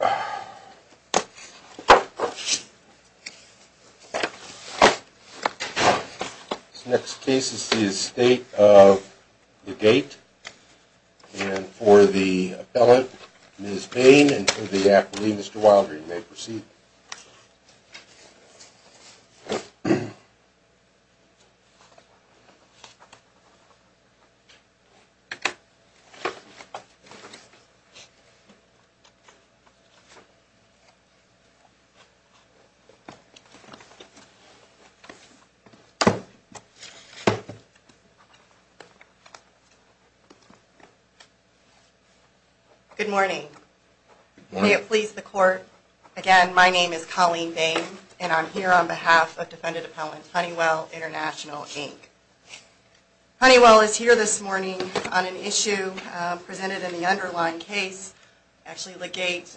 This next case is the Estate of Legate, and for the appellant, Ms. Bain, and for the appellee, Mr. Wilder, you may proceed. Good morning. May it please the Court, again, my name is Colleen Bain, and I'm here on behalf of Defendant Appellant Honeywell International, Inc. Honeywell is here this morning on an issue presented in the underlying case. Actually, Legate,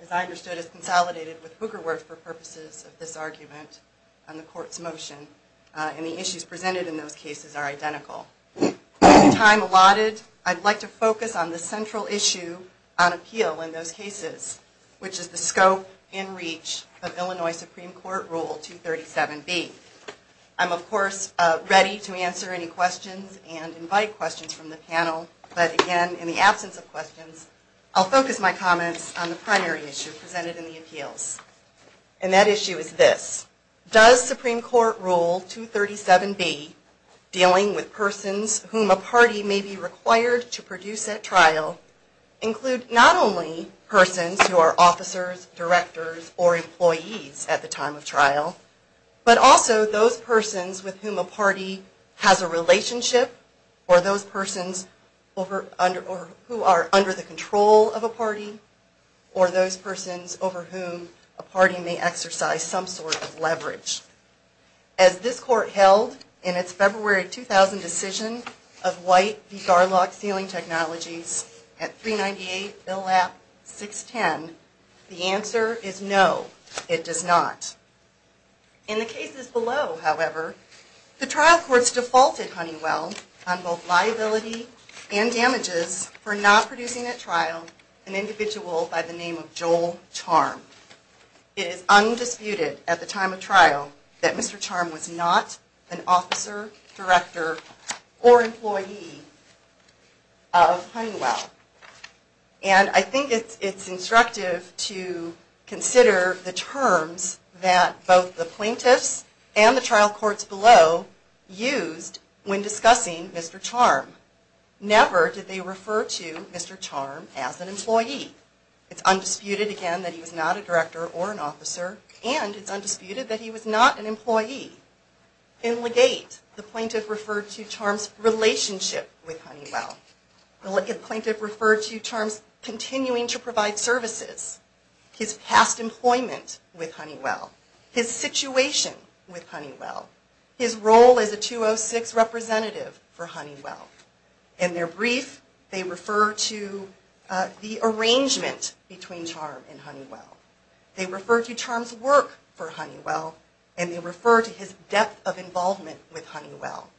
as I understood, is consolidated with Hoogerwerf for purposes of this argument on the Court's motion, and the issues presented in those cases are identical. With time allotted, I'd like to focus on the central issue on appeal in those cases, which is the scope and reach of Illinois Supreme Court Rule 237B. I'm, of course, ready to answer any questions and invite questions from the panel, but again, in the absence of questions, I'll focus my comments on the primary issue presented in the appeals. And that issue is this. Does Supreme Court Rule 237B, dealing with persons whom a party may be required to produce at trial, include not only persons who are officers, directors, or employees at the time of trial, but also those persons with whom a party has a relationship, or those persons who are under the control of a party, or those persons over whom a party may exercise some sort of leverage. As this Court held in its February 2000 decision of White v. Garlock Sealing Technologies at 398 Bill App 610, the answer is no, it does not. In the cases below, however, the trial courts defaulted Honeywell on both liability and damages for not producing at trial an individual by the name of Joel Charm. It is undisputed at the time of trial that Mr. Charm was not an officer, director, or employee of Honeywell. And I think it's instructive to consider the terms that both the plaintiffs and the trial courts below used when discussing Mr. Charm. Never did they refer to Mr. Charm as an employee. It's undisputed again that he was not a director or an officer, and it's undisputed that he was not an employee. In Legate, the plaintiff referred to Charm's relationship with Honeywell. The plaintiff referred to Charm's continuing to provide services. His past employment with Honeywell. His situation with Honeywell. His role as a 206 representative for Honeywell. In their brief, they refer to the arrangement between Charm and Honeywell. They refer to Charm's work for Honeywell, and they refer to his depth of involvement with Honeywell.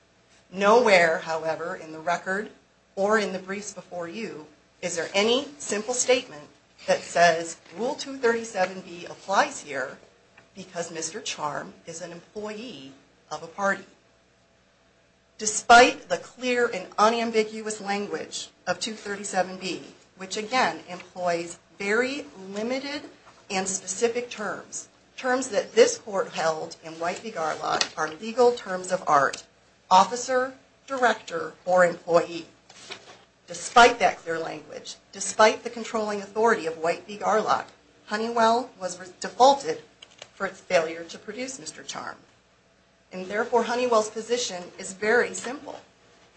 Nowhere, however, in the record or in the briefs before you is there any simple statement that says Rule 237B applies here because Mr. Charm is an employee of a party. Despite the clear and unambiguous language of 237B, which again employs very limited and specific terms, terms that this court held in White v. Garlock are legal terms of art. Officer, director, or employee. Despite that clear language, despite the controlling authority of White v. Garlock, Honeywell was defaulted for its failure to produce Mr. Charm. And therefore, Honeywell's position is very simple.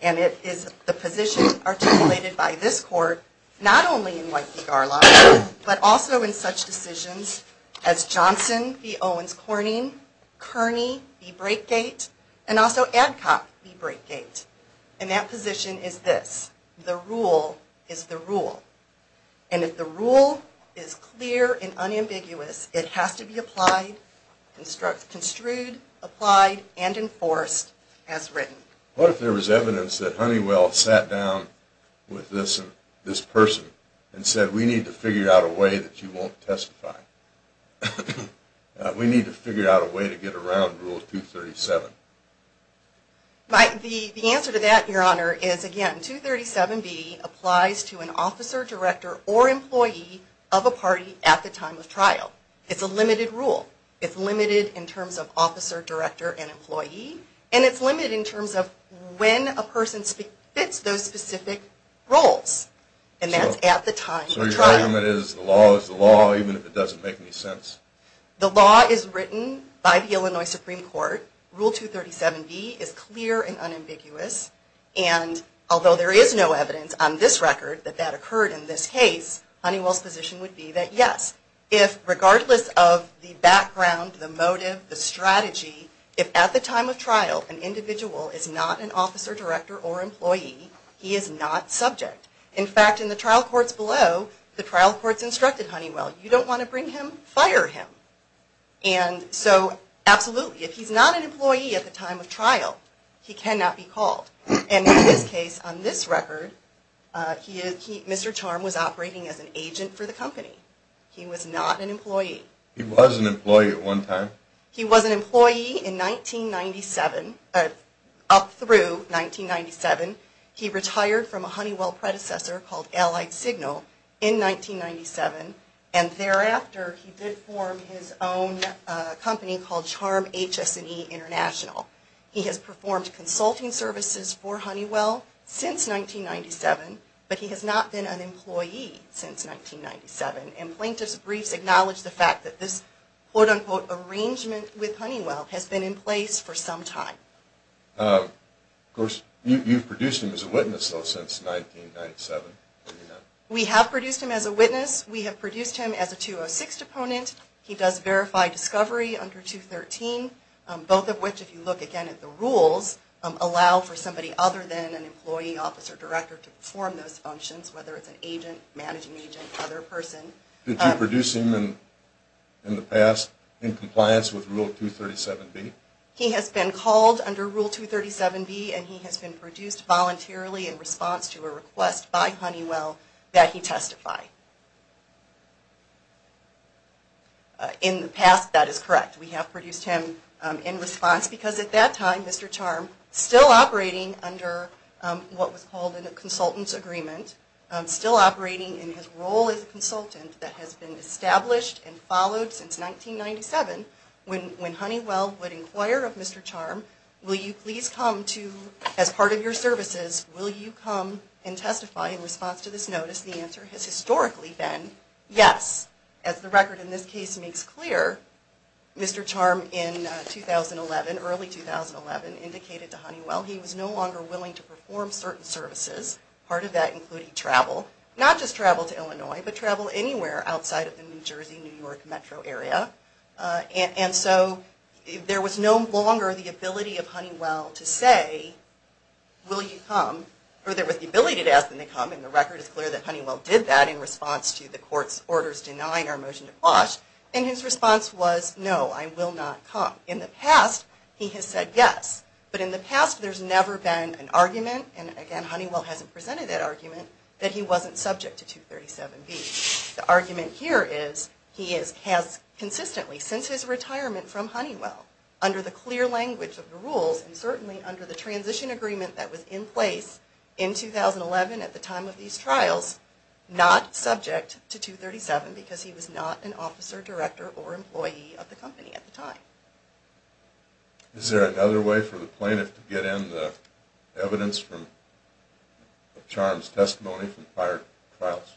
And it is the position articulated by this court not only in White v. Garlock, but also in such decisions as Johnson v. Owens Corning, Kearney v. Breakgate, and also Adcock v. Breakgate. And that position is this. The rule is the rule. And if the rule is clear and unambiguous, it has to be applied, construed, applied, and enforced as written. What if there was evidence that Honeywell sat down with this person and said, we need to figure out a way that you won't testify? We need to figure out a way to get around Rule 237. The answer to that, Your Honor, is again, 237B applies to an officer, director, or employee of a party at the time of trial. It's a limited rule. It's limited in terms of officer, director, and employee. And it's limited in terms of when a person fits those specific roles. And that's at the time of trial. So your argument is the law is the law, even if it doesn't make any sense? The law is written by the Illinois Supreme Court. Rule 237B is clear and unambiguous. And although there is no evidence on this record that that occurred in this case, Honeywell's position would be that yes, if regardless of the background, the motive, the strategy, if at the time of trial an individual is not an officer, director, or employee, he is not subject. In fact, in the trial courts below, the trial courts instructed Honeywell, you don't want to bring him, fire him. And so absolutely, if he's not an employee at the time of trial, he cannot be called. And in this case, on this record, Mr. Charm was operating as an agent for the company. He was not an employee. He was an employee at one time? He was an employee in 1997, up through 1997. He retired from a Honeywell predecessor called Allied Signal in 1997. And thereafter, he did form his own company called Charm HS&E International. He has performed consulting services for Honeywell since 1997, but he has not been an employee since 1997. And plaintiff's briefs acknowledge the fact that this quote-unquote arrangement with Honeywell has been in place for some time. Of course, you've produced him as a witness, though, since 1997. We have produced him as a witness. We have produced him as a 206 deponent. He does verify discovery under 213, both of which, if you look again at the rules, allow for somebody other than an employee, officer, director to perform those functions, whether it's an agent, managing agent, other person. Did you produce him in the past in compliance with Rule 237B? He has been called under Rule 237B, and he has been produced voluntarily in response to a request by Honeywell that he testify. In the past, that is correct. We have produced him in response because at that time, Mr. Charm, still operating under what was called a consultant's agreement, still operating in his role as a consultant that has been established and followed since 1997, when Honeywell would inquire of Mr. Charm, will you please come to, as part of your services, will you come and testify in response to this notice? The answer has historically been yes. As the record in this case makes clear, Mr. Charm in 2011, early 2011, indicated to Honeywell he was no longer willing to perform certain services. Part of that included travel, not just travel to Illinois, but travel anywhere outside of the New Jersey, New York metro area. And so there was no longer the ability of Honeywell to say, will you come, or there was the ability to ask them to come, and the record is clear that Honeywell did that in response to the court's orders denying our motion to quash. And his response was, no, I will not come. In the past, he has said yes. But in the past, there's never been an argument, and again, Honeywell hasn't presented that argument, that he wasn't subject to 237B. The argument here is, he has consistently, since his retirement from Honeywell, under the clear language of the rules, and certainly under the transition agreement that was in place in 2011 at the time of these trials, not subject to 237, because he was not an officer, director, or employee of the company at the time. Is there another way for the plaintiff to get in the evidence from Charm's testimony from prior trials?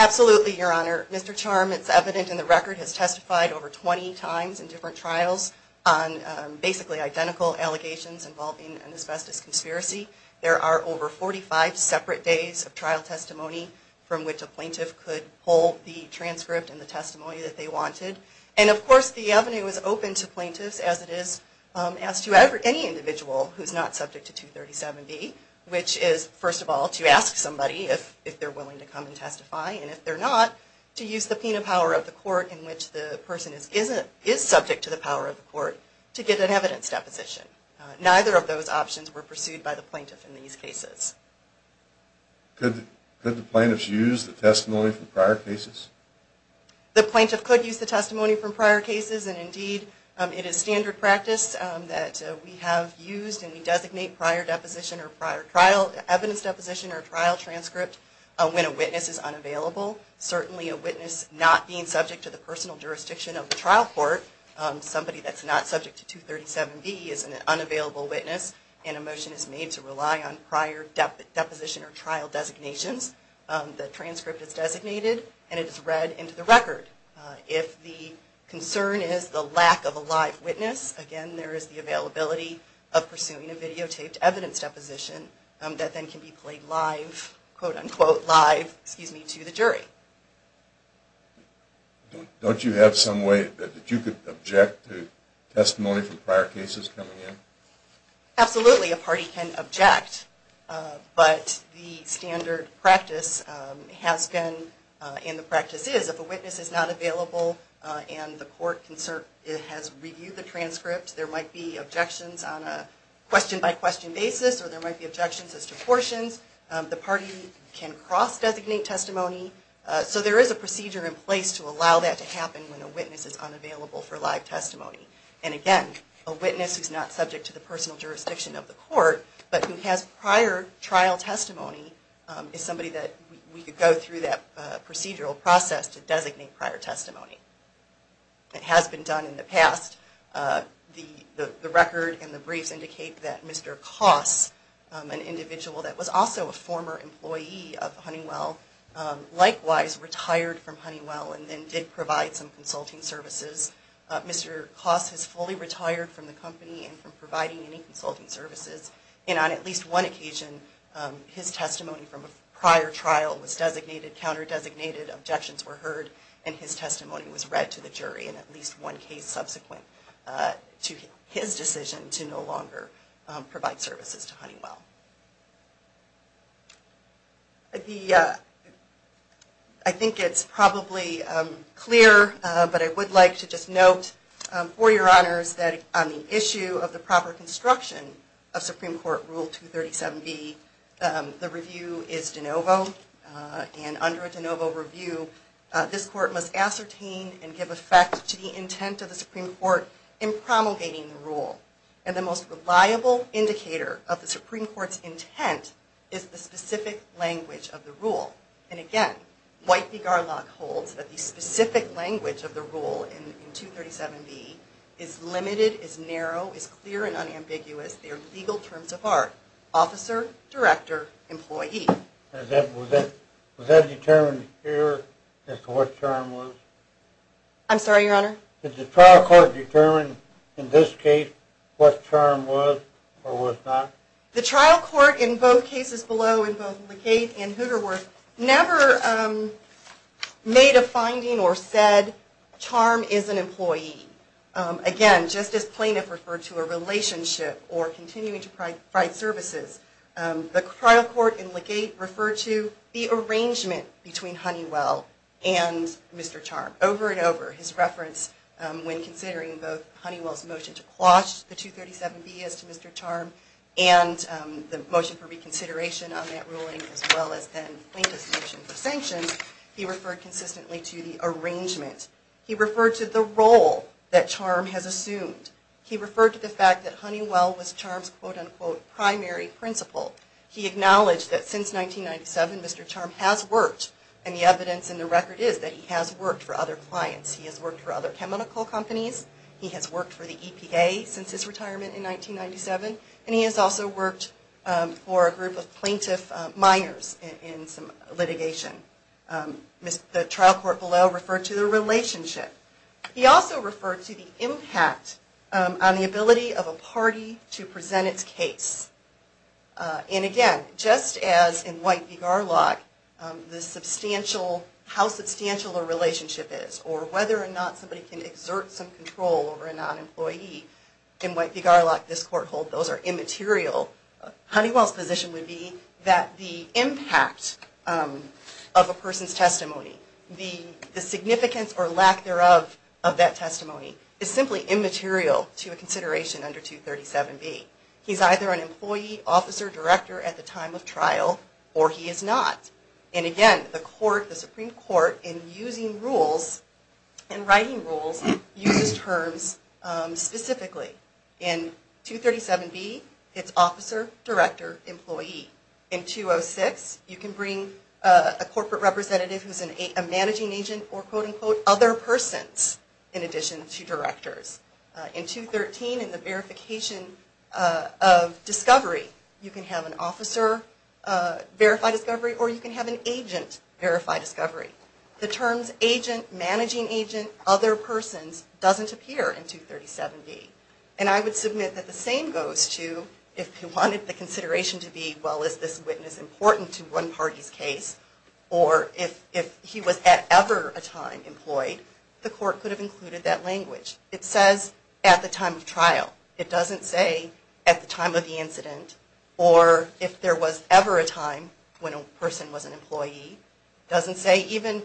Absolutely, Your Honor. Mr. Charm, it's evident in the record, has testified over 20 times in different trials on basically identical allegations involving an asbestos conspiracy. There are over 45 separate days of trial testimony from which a plaintiff could pull the transcript and the testimony that they wanted. And of course, the avenue is open to plaintiffs, as it is as to any individual who's not subject to 237B, which is, first of all, to ask somebody if they're willing to come and testify, and if they're not, to use the penal power of the court in which the person is subject to the power of the court to get an evidence deposition. Neither of those options were pursued by the plaintiff in these cases. Could the plaintiffs use the testimony from prior cases? The plaintiff could use the testimony from prior cases, and indeed, it is standard practice that we have used, and we designate prior deposition or prior trial evidence deposition or trial transcript when a witness is unavailable. Certainly, a witness not being subject to the personal jurisdiction of the trial court, somebody that's not subject to 237B, is an unavailable witness, and a motion is made to rely on prior deposition or trial designations. The transcript is designated, and it is read into the record. If the concern is the lack of a live witness, again, there is the availability of pursuing a videotaped evidence deposition that then can be played live, quote, unquote, live, excuse me, to the jury. Don't you have some way that you could object to testimony from prior cases coming in? Absolutely, a party can object, but the standard practice has been, and the practice is, if a witness is not available and the court has reviewed the transcript, there might be objections on a question-by-question basis, or there might be objections as to portions. The party can cross-designate testimony. So there is a procedure in place to allow that to happen when a witness is unavailable for live testimony. And again, a witness who's not subject to the personal jurisdiction of the court, but who has prior trial testimony, is somebody that we could go through that procedural process to designate prior testimony. It has been done in the past. The record and the briefs indicate that Mr. Koss, an individual that was also a former employee of Honeywell, likewise retired from Honeywell and then did provide some consulting services. Mr. Koss has fully retired from the company and from providing any consulting services, and on at least one occasion, his testimony from a prior trial was designated, counter-designated, objections were heard, and his testimony was read to the jury in at least one case subsequent to his decision to no longer provide services to Honeywell. I think it's probably clear, but I would like to just note, for your honors, that on the issue of the proper construction of Supreme Court Rule 237B, the review is de novo. And under a de novo review, this court must ascertain and give effect to the intent of the Supreme Court in promulgating the rule. And the most reliable indicator of the Supreme Court's intent is the specific language of the rule. And again, White v. Garlock holds that the specific language of the rule in 237B is limited, is narrow, is clear and unambiguous. They are legal terms of art. Officer, director, employee. Was that determined here as to what term was? I'm sorry, your honor? Did the trial court determine in this case what term was or was not? The trial court in both cases below, in both Legate and Hoogerwerth, never made a finding or said Charm is an employee. Again, just as plaintiff referred to a relationship or continuing to provide services, the trial court in Legate referred to the arrangement between Honeywell and Mr. Charm. Over and over, his reference when considering both Honeywell's motion to quash the 237B as to Mr. Charm and the motion for reconsideration on that ruling as well as then Plaintiff's motion for sanctions, he referred consistently to the arrangement. He referred to the role that Charm has assumed. He referred to the fact that Honeywell was Charm's quote, unquote, primary principal. He acknowledged that since 1997, Mr. Charm has worked. And the evidence in the record is that he has worked for other clients. He has worked for other chemical companies. He has worked for the EPA since his retirement in 1997. And he has also worked for a group of plaintiff minors in some litigation. The trial court below referred to the relationship. He also referred to the impact on the ability of a party to present its case. And again, just as in White v. Garlock, how substantial a relationship is or whether or not somebody can exert some control over a non-employee, in White v. Garlock, this court holds those are immaterial. Honeywell's position would be that the impact of a person's testimony, the significance or lack thereof of that testimony, is simply immaterial to a consideration under 237B. He's either an employee, officer, director at the time of trial, or he is not. And again, the Supreme Court, in writing rules, uses terms specifically. In 237B, it's officer, director, employee. In 206, you can bring a corporate representative who is a managing agent or, quote, unquote, other persons in addition to directors. In 213, in the verification of discovery, you can have an officer verify discovery or you can have an agent verify discovery. The terms agent, managing agent, other persons doesn't appear in 237B. And I would submit that the same goes to if you wanted the consideration to be, well, is this witness important to one party's case, or if he was at ever a time employed, the court could have included that language. It says at the time of trial. It doesn't say at the time of the incident or if there was ever a time when a person was an employee. It doesn't say even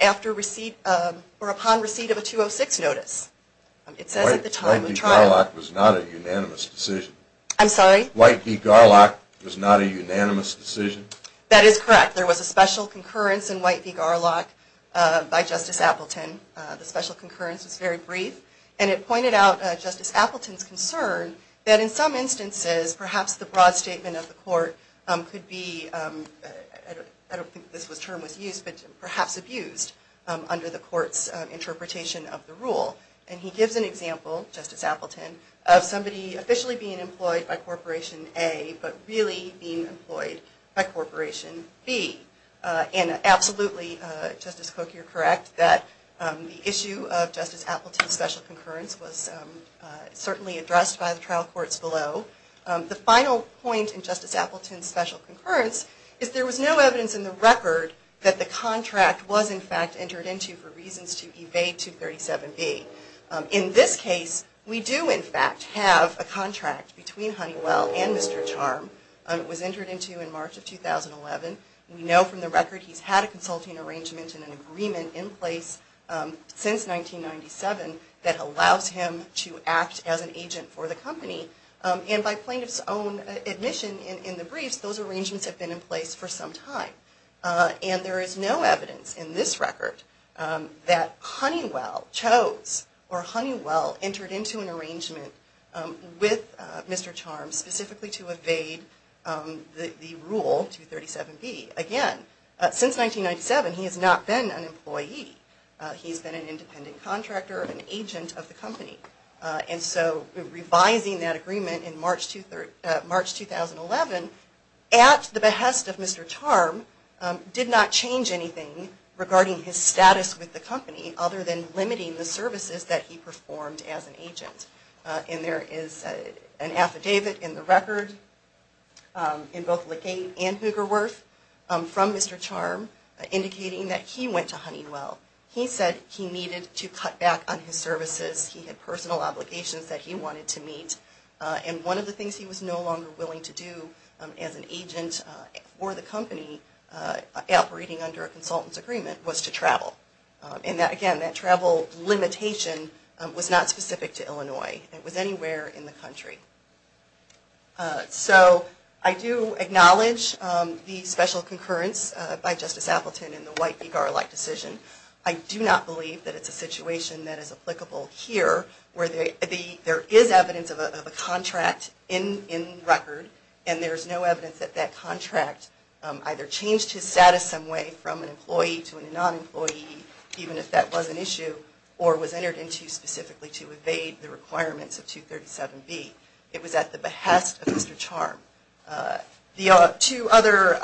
after receipt or upon receipt of a 206 notice. White v. Garlock was not a unanimous decision. I'm sorry? White v. Garlock was not a unanimous decision. That is correct. There was a special concurrence in White v. Garlock by Justice Appleton. The special concurrence was very brief, and it pointed out Justice Appleton's concern that in some instances, perhaps the broad statement of the court could be, I don't think this term was used, but perhaps abused under the court's interpretation of the rule. And he gives an example, Justice Appleton, of somebody officially being employed by Corporation A, but really being employed by Corporation B. And absolutely, Justice Cook, you're correct, that the issue of Justice Appleton's special concurrence was certainly addressed by the trial courts below. The final point in Justice Appleton's special concurrence is there was no evidence in the record that the contract was, in fact, entered into for reasons to evade 237B. In this case, we do, in fact, have a contract between Honeywell and Mr. Charm. It was entered into in March of 2011. We know from the record he's had a consulting arrangement and an agreement in place since 1997 that allows him to act as an agent for the company. And by plaintiff's own admission in the briefs, those arrangements have been in place for some time. And there is no evidence in this record that Honeywell chose or Honeywell entered into an arrangement with Mr. Charm specifically to evade the rule 237B. Again, since 1997, he has not been an employee. He's been an independent contractor, an agent of the company. And so revising that agreement in March 2011 at the behest of Mr. Charm did not change anything regarding his status with the company other than limiting the services that he performed as an agent. And there is an affidavit in the record in both LeGate and Hoogerwerth from Mr. Charm indicating that he went to Honeywell. He said he needed to cut back on his services. He had personal obligations that he wanted to meet. And one of the things he was no longer willing to do as an agent for the company operating under a consultant's agreement was to travel. And again, that travel limitation was not specific to Illinois. It was anywhere in the country. So I do acknowledge the special concurrence by Justice Appleton in the White v. Garlick decision. I do not believe that it's a situation that is applicable here where there is evidence of a contract in record and there's no evidence that that contract either changed his status some way from an employee to a non-employee, even if that was an issue, or was entered into specifically to evade the requirements of 237B. It was at the behest of Mr. Charm. The two other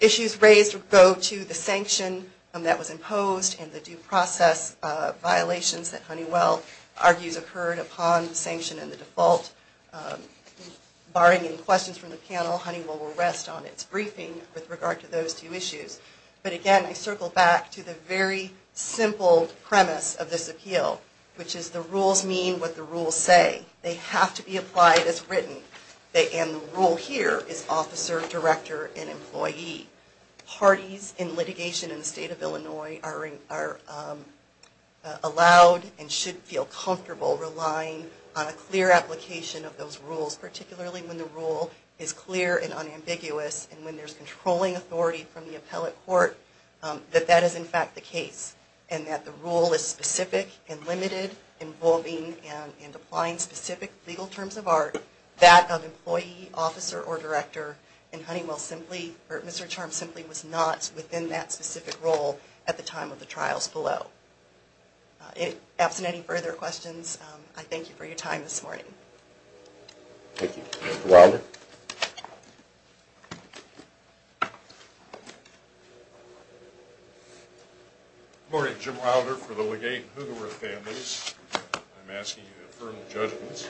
issues raised go to the sanction that was imposed and the due process violations that Honeywell argues occurred upon sanction and the default. Barring any questions from the panel, Honeywell will rest on its briefing with regard to those two issues. But again, I circle back to the very simple premise of this appeal, which is the rules mean what the rules say. They have to be applied as written, and the rule here is officer, director, and employee. Parties in litigation in the state of Illinois are allowed and should feel comfortable relying on a clear application of those rules, particularly when the rule is clear and unambiguous and when there's controlling authority from the appellate court that that is in fact the case and that the rule is specific and limited, involving and applying specific legal terms of art, that of employee, officer, or director, and Mr. Charm simply was not within that specific role at the time of the trials below. Absent any further questions, I thank you for your time this morning. Thank you. Mr. Wilder? Good morning. Jim Wilder for the Legate and Hoogerwerth families. I'm asking you to affirm your judgments,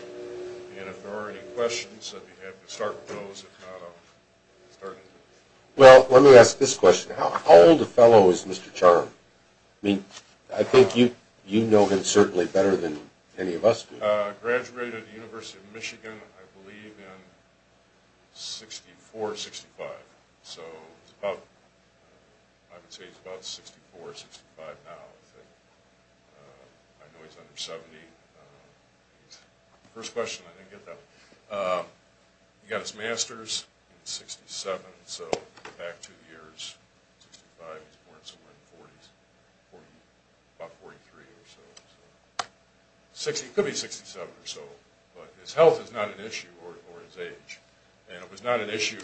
and if there are any questions, I'd be happy to start with those. Well, let me ask this question. How old a fellow is Mr. Charm? I mean, I think you know him certainly better than any of us do. Graduated University of Michigan, I believe, in 64, 65. So I would say he's about 64, 65 now. I know he's under 70. First question, I didn't get that one. He got his master's in 67, so back two years. 65, he was born somewhere in the 40s, about 43 or so. Could be 67 or so. But his health is not an issue or his age. And it was not an issue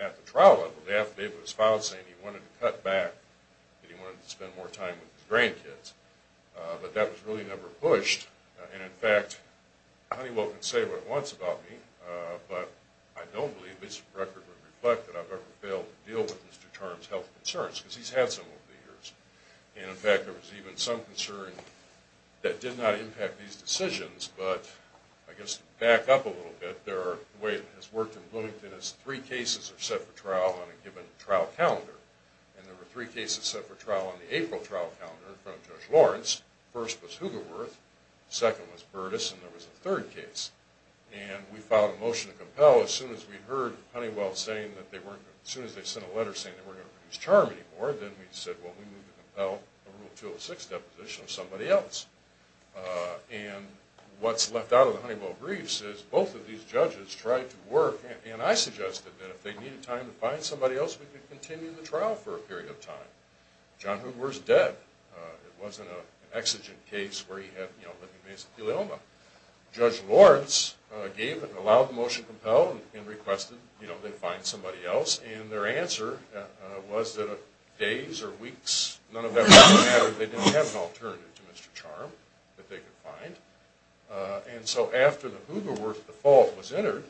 at the trial level. The affidavit was filed saying he wanted to cut back, that he wanted to spend more time with his grandkids. But that was really never pushed. And, in fact, Honeywell can say what he wants about me, but I don't believe this record would reflect that I've ever failed to deal with Mr. Charm's health concerns because he's had some over the years. And, in fact, there was even some concern that did not impact these decisions, but I guess to back up a little bit, the way it has worked in Bloomington is three cases are set for trial on a given trial calendar. And there were three cases set for trial on the April trial calendar from Judge Lawrence. The first was Hoogerwerth, the second was Burtis, and there was a third case. And we filed a motion to compel. As soon as we heard Honeywell saying that they weren't, as soon as they sent a letter saying they weren't going to produce Charm anymore, then we said, well, we need to compel a Rule 206 deposition of somebody else. And what's left out of the Honeywell briefs is both of these judges tried to work, and I suggested that if they needed time to find somebody else, we could continue the trial for a period of time. John Hoogerwerth's dead. It wasn't an exigent case where he had, you know, living veins and pelioma. Judge Lawrence gave and allowed the motion to compel and requested, you know, they find somebody else. And their answer was that days or weeks, none of that really mattered. They didn't have an alternative to Mr. Charm that they could find. And so after the Hoogerwerth default was entered,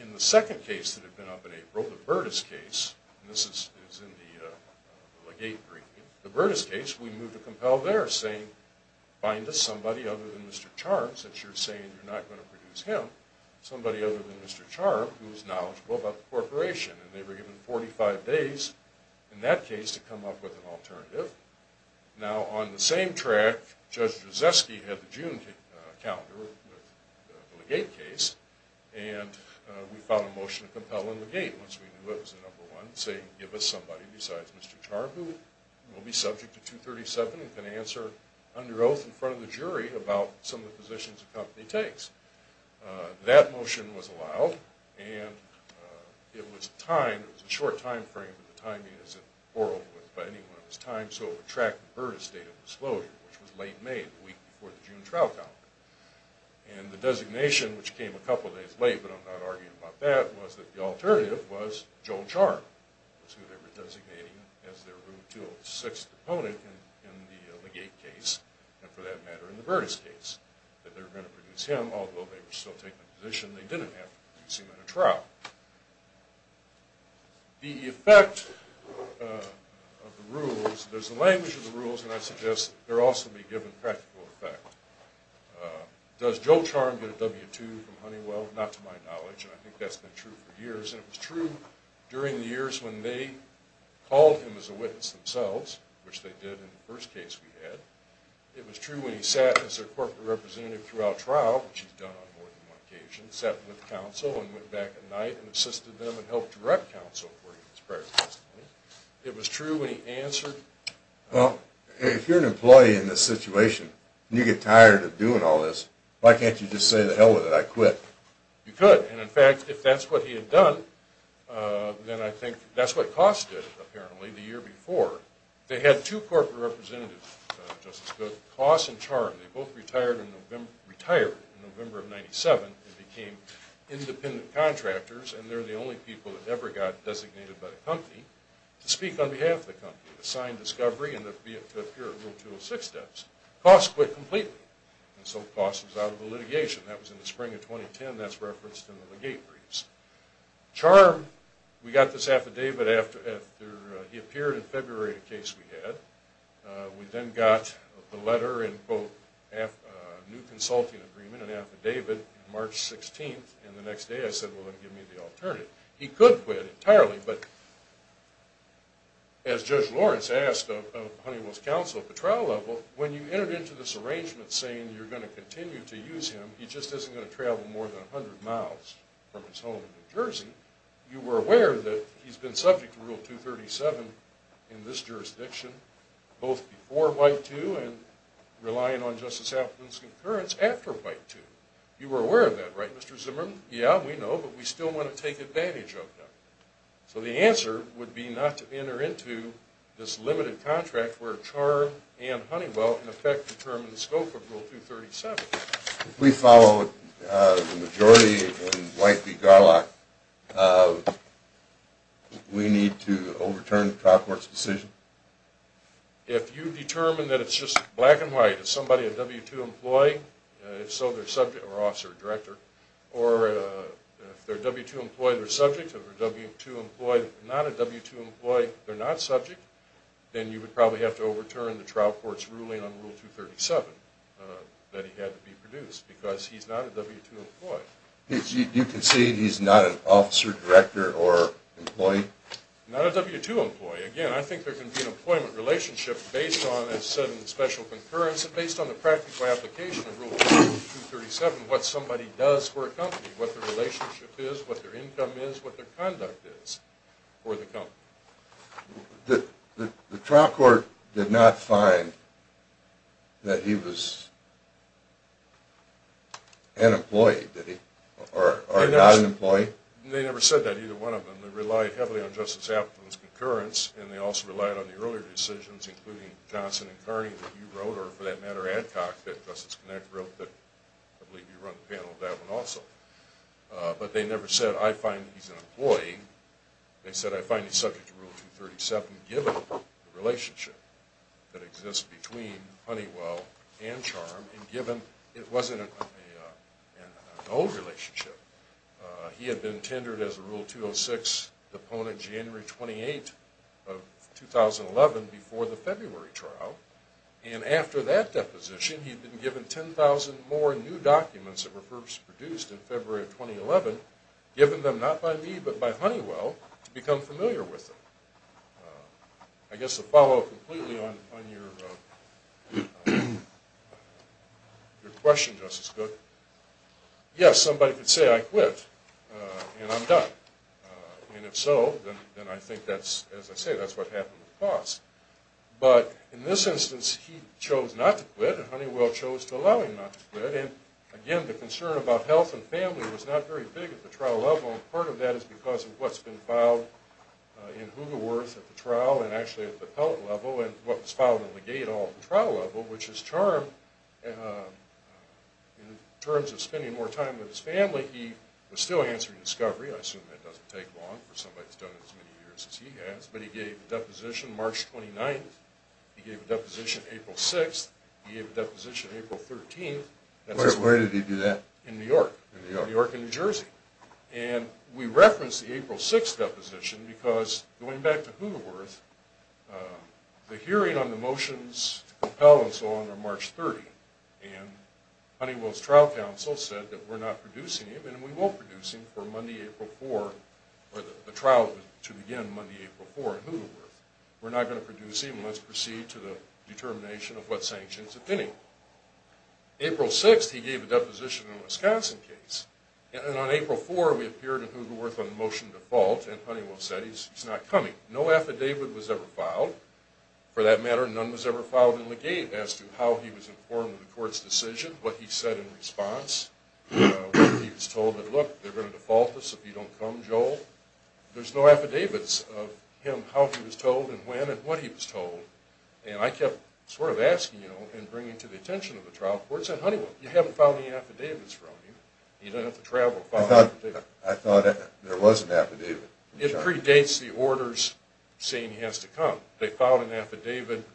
in the second case that had been up in April, the Burtis case, and this is in the Legate briefing, the Burtis case, we moved to compel there saying, find us somebody other than Mr. Charm, since you're saying you're not going to produce him, somebody other than Mr. Charm who is knowledgeable about the corporation. And they were given 45 days in that case to come up with an alternative. Now, on the same track, Judge Drzeski had the June calendar with the Legate case, and we found a motion to compel in Legate once we knew it was the number one, saying give us somebody besides Mr. Charm who will be subject to 237 and can answer under oath in front of the jury about some of the positions the company takes. That motion was allowed, and it was timed, it was a short time frame, but the timing isn't borrowed by anyone at this time, so it would track the Burtis date of disclosure, which was late May, the week before the June trial calendar. And the designation, which came a couple days late, but I'm not arguing about that, was that the alternative was Joel Charm, who they were designating as their room 206 opponent in the Legate case, and for that matter in the Burtis case, that they were going to produce him, although they were still taking a position they didn't have to produce him at a trial. The effect of the rules, there's a language of the rules, and I suggest there also be given practical effect. Does Joel Charm get a W-2 from Honeywell? Not to my knowledge, and I think that's been true for years, and it was true during the years when they called him as a witness themselves, which they did in the first case we had. It was true when he sat as a corporate representative throughout trial, which he's done on more than one occasion, sat with counsel and went back at night and assisted them and helped direct counsel for his prior testimony. It was true when he answered. Well, if you're an employee in this situation and you get tired of doing all this, why can't you just say to hell with it, I quit? You could, and in fact, if that's what he had done, then I think that's what costed it, apparently, the year before. They had two corporate representatives, Justice Goode, Coss and Charm. They both retired in November of 1997 and became independent contractors, and they're the only people that ever got designated by the company to speak on behalf of the company, to sign discovery and to appear in Rule 206 steps. Coss quit completely, and so Coss was out of the litigation. That was in the spring of 2010. That's referenced in the Legate Briefs. Charm, we got this affidavit after he appeared in February, a case we had. We then got the letter and a new consulting agreement, an affidavit, March 16th, and the next day I said, well, give me the alternative. He could quit entirely, but as Judge Lawrence asked of Honeywell's counsel at the trial level, when you entered into this arrangement saying you're going to continue to use him, he just isn't going to travel more than 100 miles from his home in New Jersey, you were aware that he's been subject to Rule 237 in this jurisdiction, both before White 2 and relying on Justice Appleton's concurrence after White 2. You were aware of that, right, Mr. Zimmerman? Yeah, we know, but we still want to take advantage of that. So the answer would be not to enter into this limited contract where Charm and Honeywell in effect determine the scope of Rule 237. If we follow the majority in White v. Garlock, we need to overturn the trial court's decision? If you determine that it's just black and white, it's somebody, a W-2 employee, if so, they're subject or officer or director, or if they're a W-2 employee, they're subject, if they're a W-2 employee, not a W-2 employee, they're not subject, then you would probably have to overturn the trial court's ruling on Rule 237 that he had to be produced because he's not a W-2 employee. Do you concede he's not an officer, director, or employee? Not a W-2 employee. Again, I think there can be an employment relationship based on, as said in the special concurrence, based on the practical application of Rule 237, what somebody does for a company, what their relationship is, what their income is, what their conduct is for the company. The trial court did not find that he was an employee, did it? Or not an employee? They never said that, either one of them. They relied heavily on Justice Appleton's concurrence, and they also relied on the earlier decisions, including Johnson and Kearney, that you wrote, or for that matter, Adcock, that Justice Connick wrote, that I believe you run the panel on that one also. But they never said, I find he's an employee. They said, I find he's subject to Rule 237, given the relationship that exists between Honeywell and Charm, and given it wasn't an old relationship. He had been tendered as a Rule 206 deponent January 28, 2011, before the February trial. And after that deposition, he'd been given 10,000 more new documents that were first produced in February of 2011, given them not by me, but by Honeywell, to become familiar with them. I guess to follow up completely on your question, Justice Cook, yes, somebody could say, I quit, and I'm done. And if so, then I think that's, as I say, that's what happened with Foss. But in this instance, he chose not to quit, and Honeywell chose to allow him not to quit. And again, the concern about health and family was not very big at the trial level, and part of that is because of what's been filed in Hoogerwerth at the trial, and actually at the appellate level, and what was filed in Legado at the trial level, which is Charm, in terms of spending more time with his family, he was still answering discovery. I assume that doesn't take long for somebody that's done it as many years as he has. But he gave a deposition March 29. He gave a deposition April 6. He gave a deposition April 13. Where did he do that? In New York, New York and New Jersey. And we referenced the April 6 deposition because, going back to Hoogerwerth, the hearing on the motions to compel and so on are March 30, and Honeywell's trial counsel said that we're not producing him, and we won't produce him for Monday, April 4, or the trial to begin Monday, April 4 in Hoogerwerth. We're not going to produce him. Let's proceed to the determination of what sanctions, if any. April 6, he gave a deposition in a Wisconsin case. And on April 4, we appeared in Hoogerwerth on the motion to default, and Honeywell said he's not coming. No affidavit was ever filed. For that matter, none was ever filed in Legado as to how he was informed of the court's decision, what he said in response, when he was told that, look, they're going to default us if you don't come, Joel. There's no affidavits of him, how he was told and when and what he was told. And I kept sort of asking, you know, and bringing to the attention of the trial court, saying, Honeywell, you haven't filed any affidavits for him. You don't have to travel to file an affidavit. I thought there was an affidavit. It predates the orders saying he has to come. They filed an affidavit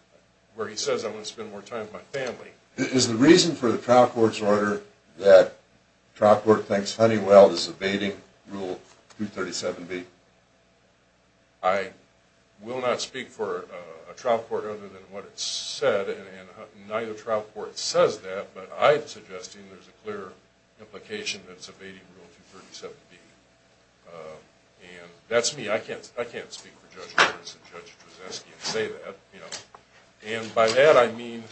where he says, I want to spend more time with my family. Is the reason for the trial court's order that the trial court thinks Honeywell is evading Rule 237B? I will not speak for a trial court other than what it said, and neither trial court says that, but I'm suggesting there's a clear implication that it's evading Rule 237B. And that's me. I can't speak for Judge Berenson and Judge Drzeski and say that, you know. And by that I mean,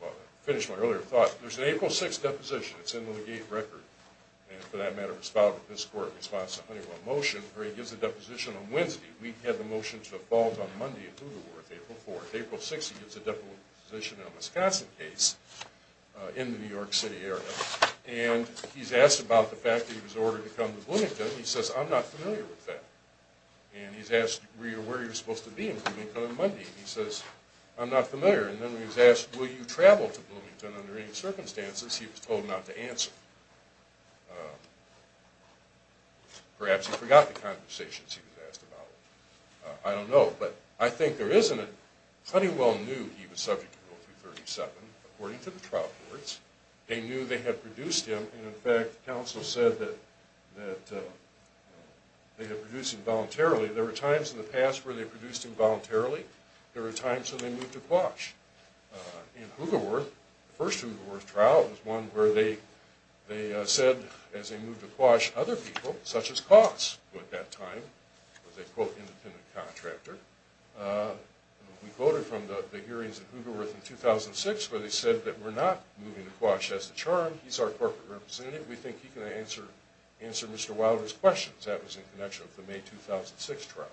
well, to finish my earlier thought, there's an April 6th deposition. It's in the Legate Record. And for that matter, it was filed with this court in response to Honeywell's motion, where he gives a deposition on Wednesday. We had the motion to default on Monday at Hoover Worth, April 4th. April 6th, he gives a deposition in a Wisconsin case in the New York City area. And he's asked about the fact that he was ordered to come to Bloomington. He says, I'm not familiar with that. And he's asked where you're supposed to be in Bloomington on Monday. And he says, I'm not familiar. And then he's asked, will you travel to Bloomington under any circumstances? He was told not to answer. Perhaps he forgot the conversations he was asked about. I don't know. But I think there is an – Honeywell knew he was subject to Rule 237, according to the trial courts. They knew they had produced him. And, in fact, counsel said that they had produced him voluntarily. There were times in the past where they produced him voluntarily. There were times when they moved to Quash. In Hoover Worth, the first Hoover Worth trial was one where they said, as they moved to Quash, other people, such as Coss, who at that time was a, quote, independent contractor. We quoted from the hearings in Hoover Worth in 2006, where they said that we're not moving to Quash as the charm. He's our corporate representative. We think he can answer Mr. Wilder's questions. That was in connection with the May 2006 trial.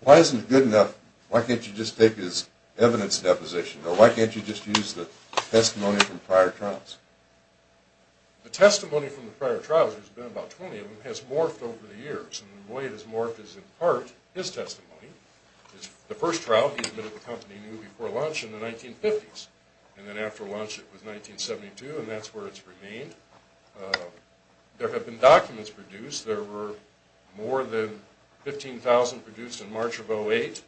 Why isn't it good enough, why can't you just take his evidence deposition, or why can't you just use the testimony from prior trials? The testimony from the prior trials, there's been about 20 of them, has morphed over the years. And the way it has morphed is, in part, his testimony. The first trial, he admitted the company knew before launch in the 1950s. And then after launch, it was 1972, and that's where it's remained. There have been documents produced. There were more than 15,000 produced in March of 2008.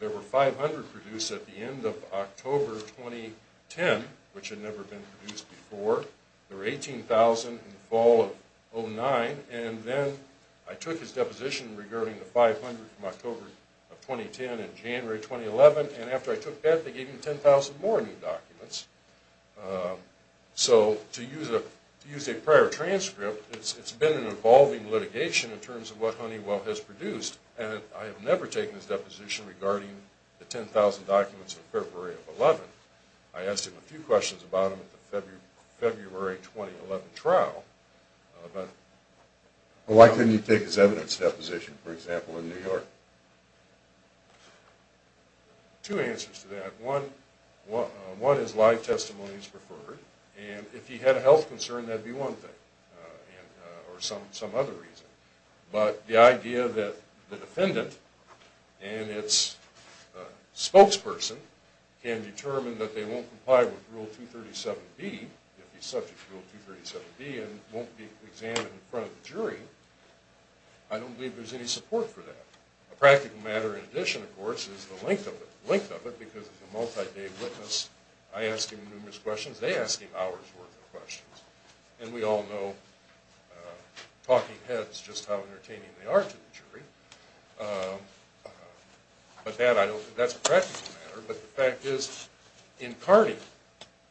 There were 500 produced at the end of October 2010, which had never been produced before. There were 18,000 in the fall of 2009. And then I took his deposition regarding the 500 from October of 2010 and January 2011. And after I took that, they gave him 10,000 more new documents. So to use a prior transcript, it's been an evolving litigation in terms of what Honeywell has produced. And I have never taken his deposition regarding the 10,000 documents in February of 2011. I asked him a few questions about them at the February 2011 trial. Why couldn't you take his evidence deposition, for example, in New York? Two answers to that. One is live testimony is preferred. And if he had a health concern, that would be one thing, or some other reason. But the idea that the defendant and its spokesperson can determine that they won't comply with Rule 237B, if he's subject to Rule 237B, and won't be examined in front of the jury, I don't believe there's any support for that. A practical matter in addition, of course, is the length of it. The length of it, because it's a multi-day witness, I ask him numerous questions, they ask him hours worth of questions. And we all know, talking heads, just how entertaining they are to the jury. But that's a practical matter. But the fact is, in Carney,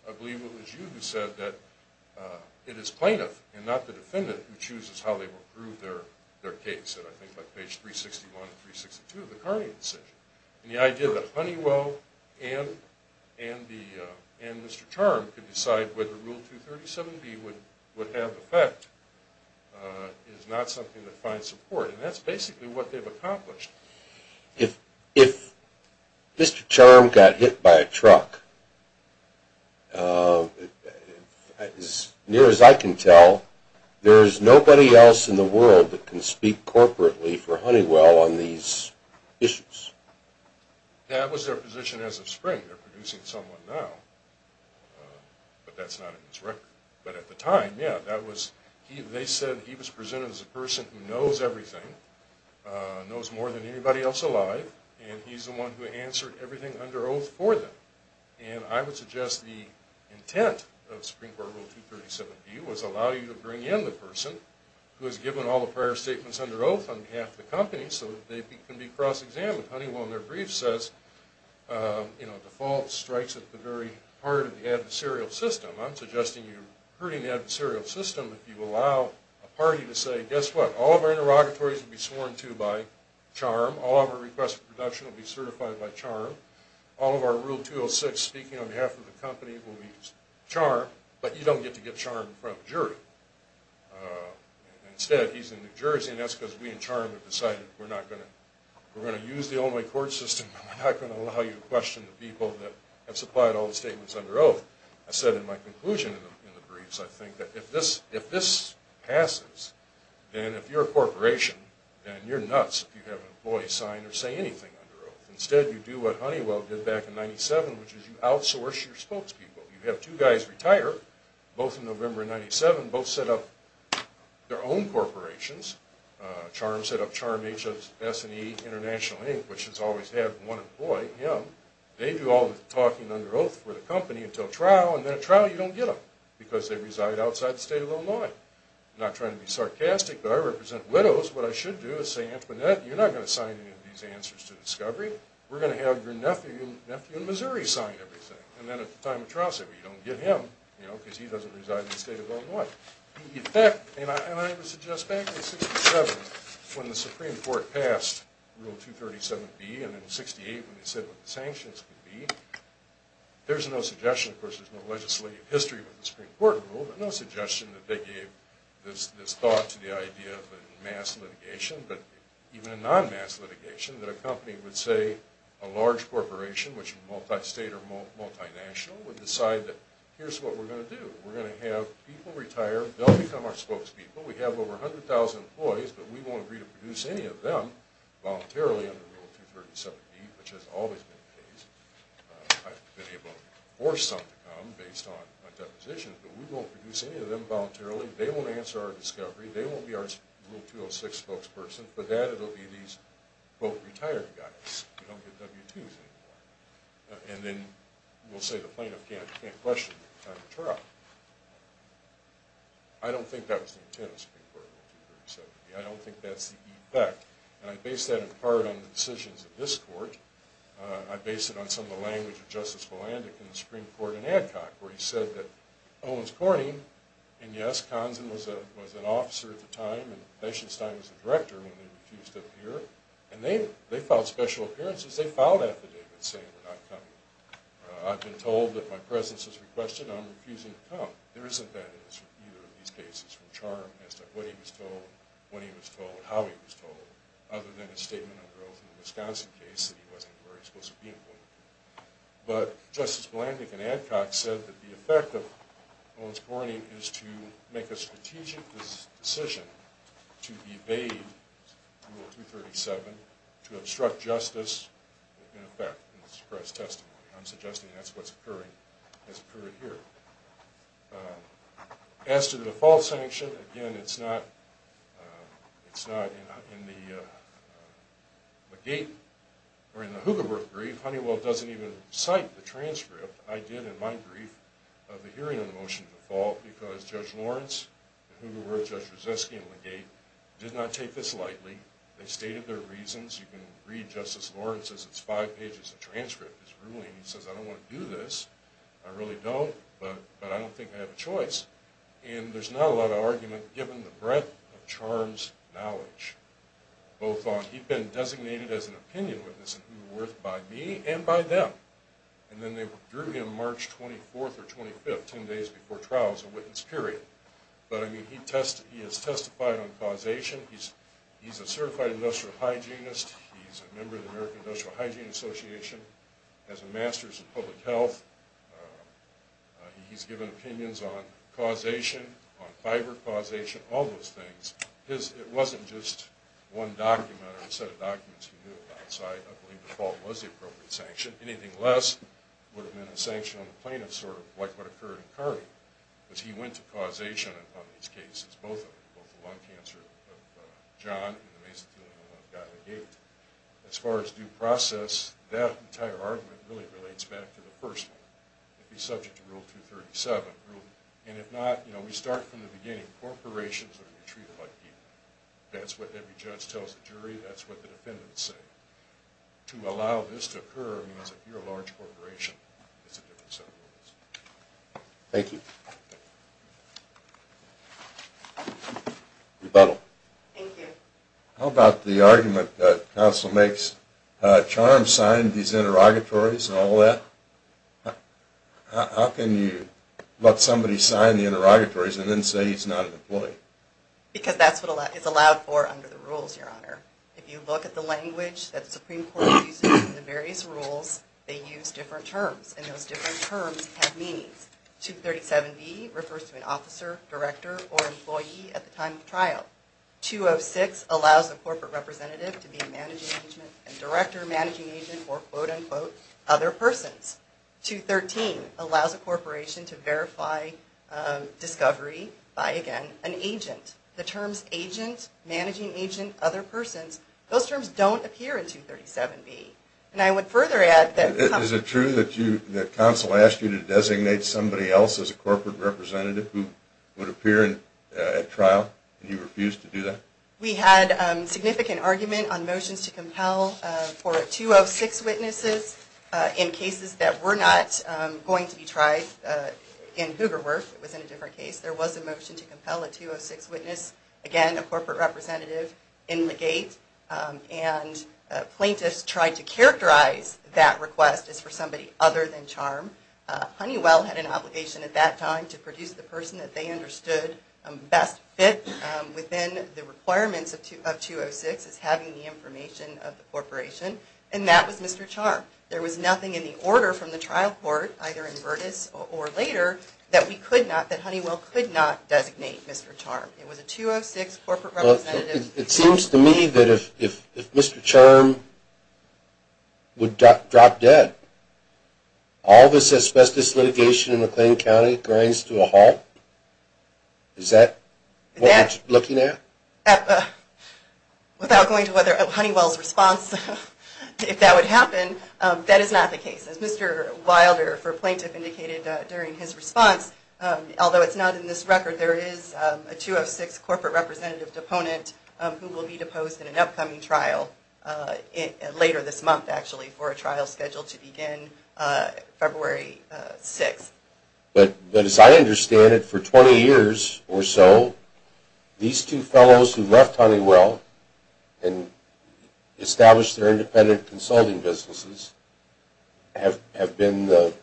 I believe it was you who said that it is plaintiff and not the defendant who chooses how they will prove their case. And I think by page 361 and 362 of the Carney decision. And the idea that Honeywell and Mr. Charm could decide whether Rule 237B would have effect is not something that finds support. And that's basically what they've accomplished. If Mr. Charm got hit by a truck, as near as I can tell, there's nobody else in the world that can speak corporately for Honeywell on these issues. That was their position as of spring. They're producing someone now, but that's not in his record. But at the time, yeah, that was, they said he was presented as a person who knows everything, knows more than anybody else alive, and he's the one who answered everything under oath for them. And I would suggest the intent of Supreme Court Rule 237B was allow you to bring in the person who has given all the prior statements under oath on behalf of the company so that they can be cross-examined. Honeywell in their brief says, you know, default strikes at the very heart of the adversarial system. I'm suggesting you're hurting the adversarial system if you allow a party to say, guess what, all of our interrogatories will be sworn to by Charm. All of our requests for production will be certified by Charm. All of our Rule 206 speaking on behalf of the company will be Charm, but you don't get to get Charm in front of a jury. Instead, he's in New Jersey, and that's because we and Charm have decided we're not going to, we're going to use the only court system, but we're not going to allow you to question the people that have supplied all the statements under oath. I said in my conclusion in the briefs, I think that if this passes, then if you're a corporation, then you're nuts if you have an employee sign or say anything under oath. Instead, you do what Honeywell did back in 97, which is you outsource your spokespeople. You have two guys retire, both in November of 97, both set up their own corporations. Charm set up Charm S&E International Inc., which has always had one employee, him. They do all the talking under oath for the company until trial, and then at trial you don't get them because they reside outside the state of Illinois. I'm not trying to be sarcastic, but I represent widows. What I should do is say, Antoinette, you're not going to sign any of these answers to discovery. We're going to have your nephew in Missouri sign everything. And then at the time of trial, say, well, you don't get him because he doesn't reside in the state of Illinois. And I would suggest back in 67, when the Supreme Court passed Rule 237B, and in 68 when they said what the sanctions would be, there's no suggestion, of course, there's no legislative history with the Supreme Court rule, but no suggestion that they gave this thought to the idea that in mass litigation, but even in non-mass litigation, that a company would say a large corporation, which is multi-state or multi-national, would decide that here's what we're going to do. We're going to have people retire. They'll become our spokespeople. We have over 100,000 employees, but we won't agree to produce any of them voluntarily under Rule 237B, which has always been the case. I've been able to force some to come based on a deposition, but we won't produce any of them voluntarily. They won't answer our discovery. They won't be our Rule 206 spokesperson. For that, it'll be these, quote, retired guys. We don't get W-2s anymore. And then we'll say the plaintiff can't question the time of trial. I don't think that was the intent of the Supreme Court Rule 237B. I don't think that's the effect. And I base that in part on the decisions of this court. I base it on some of the language of Justice Volandick in the Supreme Court in Adcock, where he said that Owens Corning, and yes, Conson was an officer at the time, and Feinstein was the director when they refused to appear, and they filed special appearances. They filed affidavits saying we're not coming. I've been told that my presence is requested, and I'm refusing to come. There isn't that in either of these cases, from Charm as to what he was told, when he was told, and how he was told, other than a statement of growth in the Wisconsin case that he wasn't where he was supposed to be employed. But Justice Volandick in Adcock said that the effect of Owens Corning is to make a strategic decision to evade Rule 237, to obstruct justice, in effect, in this press testimony. I'm suggesting that's what's occurring here. As to the fall sanction, again, it's not in the Hoogerwerth brief. Honeywell doesn't even cite the transcript. I did, in my brief, of the hearing of the motion of the fall, because Judge Lawrence, the Hoogerwerth, Judge Rzeski, and Legate did not take this lightly. They stated their reasons. You can read Justice Lawrence's. It's five pages of transcript, his ruling. He says, I don't want to do this. I really don't, but I don't think I have a choice. And there's not a lot of argument, given the breadth of Charm's knowledge, both on he'd been designated as an opinion witness at Hoogerwerth by me and by them. And then they drew him March 24th or 25th, 10 days before trial, as a witness, period. But, I mean, he has testified on causation. He's a certified industrial hygienist. He's a member of the American Industrial Hygiene Association, has a master's in public health. He's given opinions on causation, on fiber causation, all those things. It wasn't just one document or a set of documents he knew about. I believe the fault was the appropriate sanction. Anything less would have meant a sanction on the plaintiff, sort of like what occurred in Carvey, because he went to causation on these cases, both of them, both the lung cancer of John and the masonry of the one of Guy LeGate. As far as due process, that entire argument really relates back to the first one. It would be subject to Rule 237. And if not, you know, we start from the beginning. That's what every judge tells the jury. That's what the defendants say. To allow this to occur means that you're a large corporation. It's a different set of rules. Thank you. Rebuttal. Thank you. How about the argument that counsel makes, Charm signed these interrogatories and all that. Because that's what it's allowed for under the rules, Your Honor. If you look at the language that the Supreme Court uses in the various rules, they use different terms. And those different terms have meanings. 237B refers to an officer, director, or employee at the time of trial. 206 allows a corporate representative to be a managing agent and director, managing agent, or quote, unquote, other persons. 213 allows a corporation to verify discovery by, again, an agent. The terms agent, managing agent, other persons, those terms don't appear in 237B. And I would further add that... Is it true that counsel asked you to designate somebody else as a corporate representative who would appear at trial, and you refused to do that? We had significant argument on motions to compel for 206 witnesses in cases that were not going to be tried in Hoogerwerth. It was in a different case. There was a motion to compel a 206 witness, again, a corporate representative, in Legate. And plaintiffs tried to characterize that request as for somebody other than Charm. Honeywell had an obligation at that time to produce the person that they understood best fit within the requirements of 206 as having the information of the corporation. And that was Mr. Charm. There was nothing in the order from the trial court, either in Burtis or later, that we could not, that Honeywell could not designate Mr. Charm. It was a 206 corporate representative. It seems to me that if Mr. Charm would drop dead, all this asbestos litigation in McLean County grinds to a halt. Is that what you're looking at? Without going to Honeywell's response, if that would happen, that is not the case. As Mr. Wilder, for plaintiff, indicated during his response, although it's not in this record, there is a 206 corporate representative deponent who will be deposed in an upcoming trial later this month, actually, for a trial scheduled to begin February 6th. But as I understand it, for 20 years or so, these two fellows who left Honeywell and established their independent consulting businesses have been the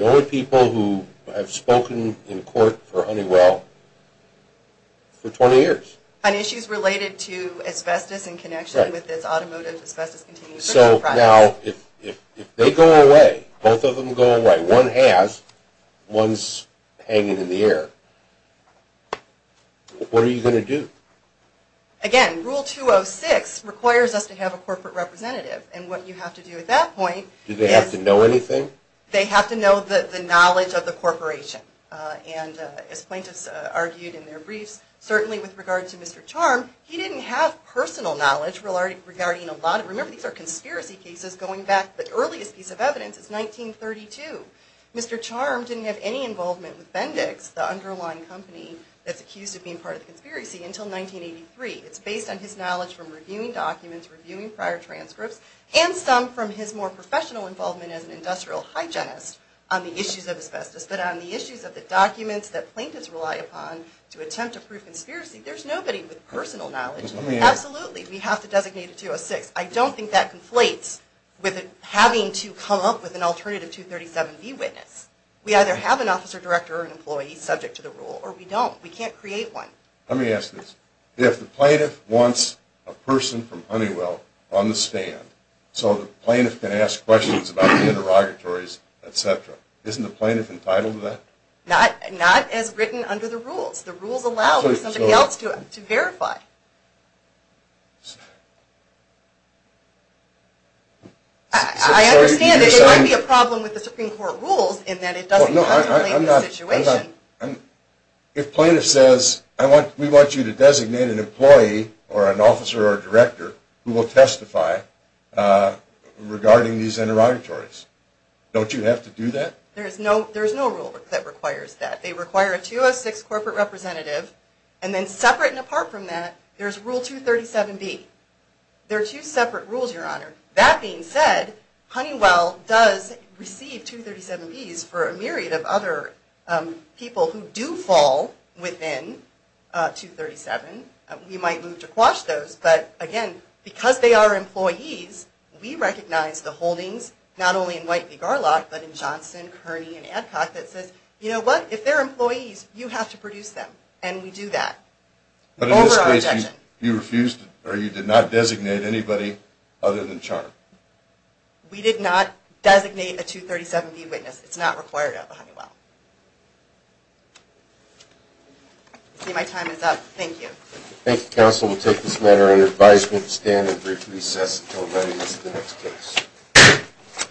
only people who have spoken in court for Honeywell for 20 years. On issues related to asbestos in connection with this automotive asbestos contingency project. So now, if they go away, both of them go away, one has, one's hanging in the air. What are you going to do? Again, Rule 206 requires us to have a corporate representative. And what you have to do at that point is... Do they have to know anything? They have to know the knowledge of the corporation. And as plaintiffs argued in their briefs, certainly with regard to Mr. Charm, he didn't have personal knowledge regarding a lot of, remember these are conspiracy cases going back, the earliest piece of evidence is 1932. Mr. Charm didn't have any involvement with Bendix, the underlying company that's accused of being part of the conspiracy, until 1983. It's based on his knowledge from reviewing documents, reviewing prior transcripts, and some from his more professional involvement as an industrial hygienist on the issues of asbestos. But on the issues of the documents that plaintiffs rely upon to attempt to prove conspiracy, there's nobody with personal knowledge. Absolutely, we have to designate a 206. I don't think that conflates with having to come up with an alternative 237B witness. We either have an officer director or an employee subject to the rule, or we don't. We can't create one. Let me ask this. If the plaintiff wants a person from Honeywell on the stand so the plaintiff can ask questions about the interrogatories, etc., isn't the plaintiff entitled to that? Not as written under the rules. The rules allow for somebody else to verify. I understand that there might be a problem with the Supreme Court rules in that it doesn't contemplate the situation. If plaintiff says, we want you to designate an employee or an officer or a director who will testify regarding these interrogatories, don't you have to do that? There's no rule that requires that. They require a 206 corporate representative, and then separate and apart from that, there's Rule 237B. They're two separate rules, Your Honor. That being said, Honeywell does receive 237Bs for a myriad of other people who do fall within 237. We might move to quash those, but again, because they are employees, we recognize the holdings, not only in White v. Garlock, but in Johnson, Kearney, and Adcock that says, you know what, if they're employees, you have to produce them, and we do that. But in this case, you refused, or you did not designate anybody other than Charm. We did not designate a 237B witness. It's not required of Honeywell. I see my time is up. Thank you. Thank you, Counsel. We'll take this matter under advisement. We'll stand and briefly recess until readiness of the next case.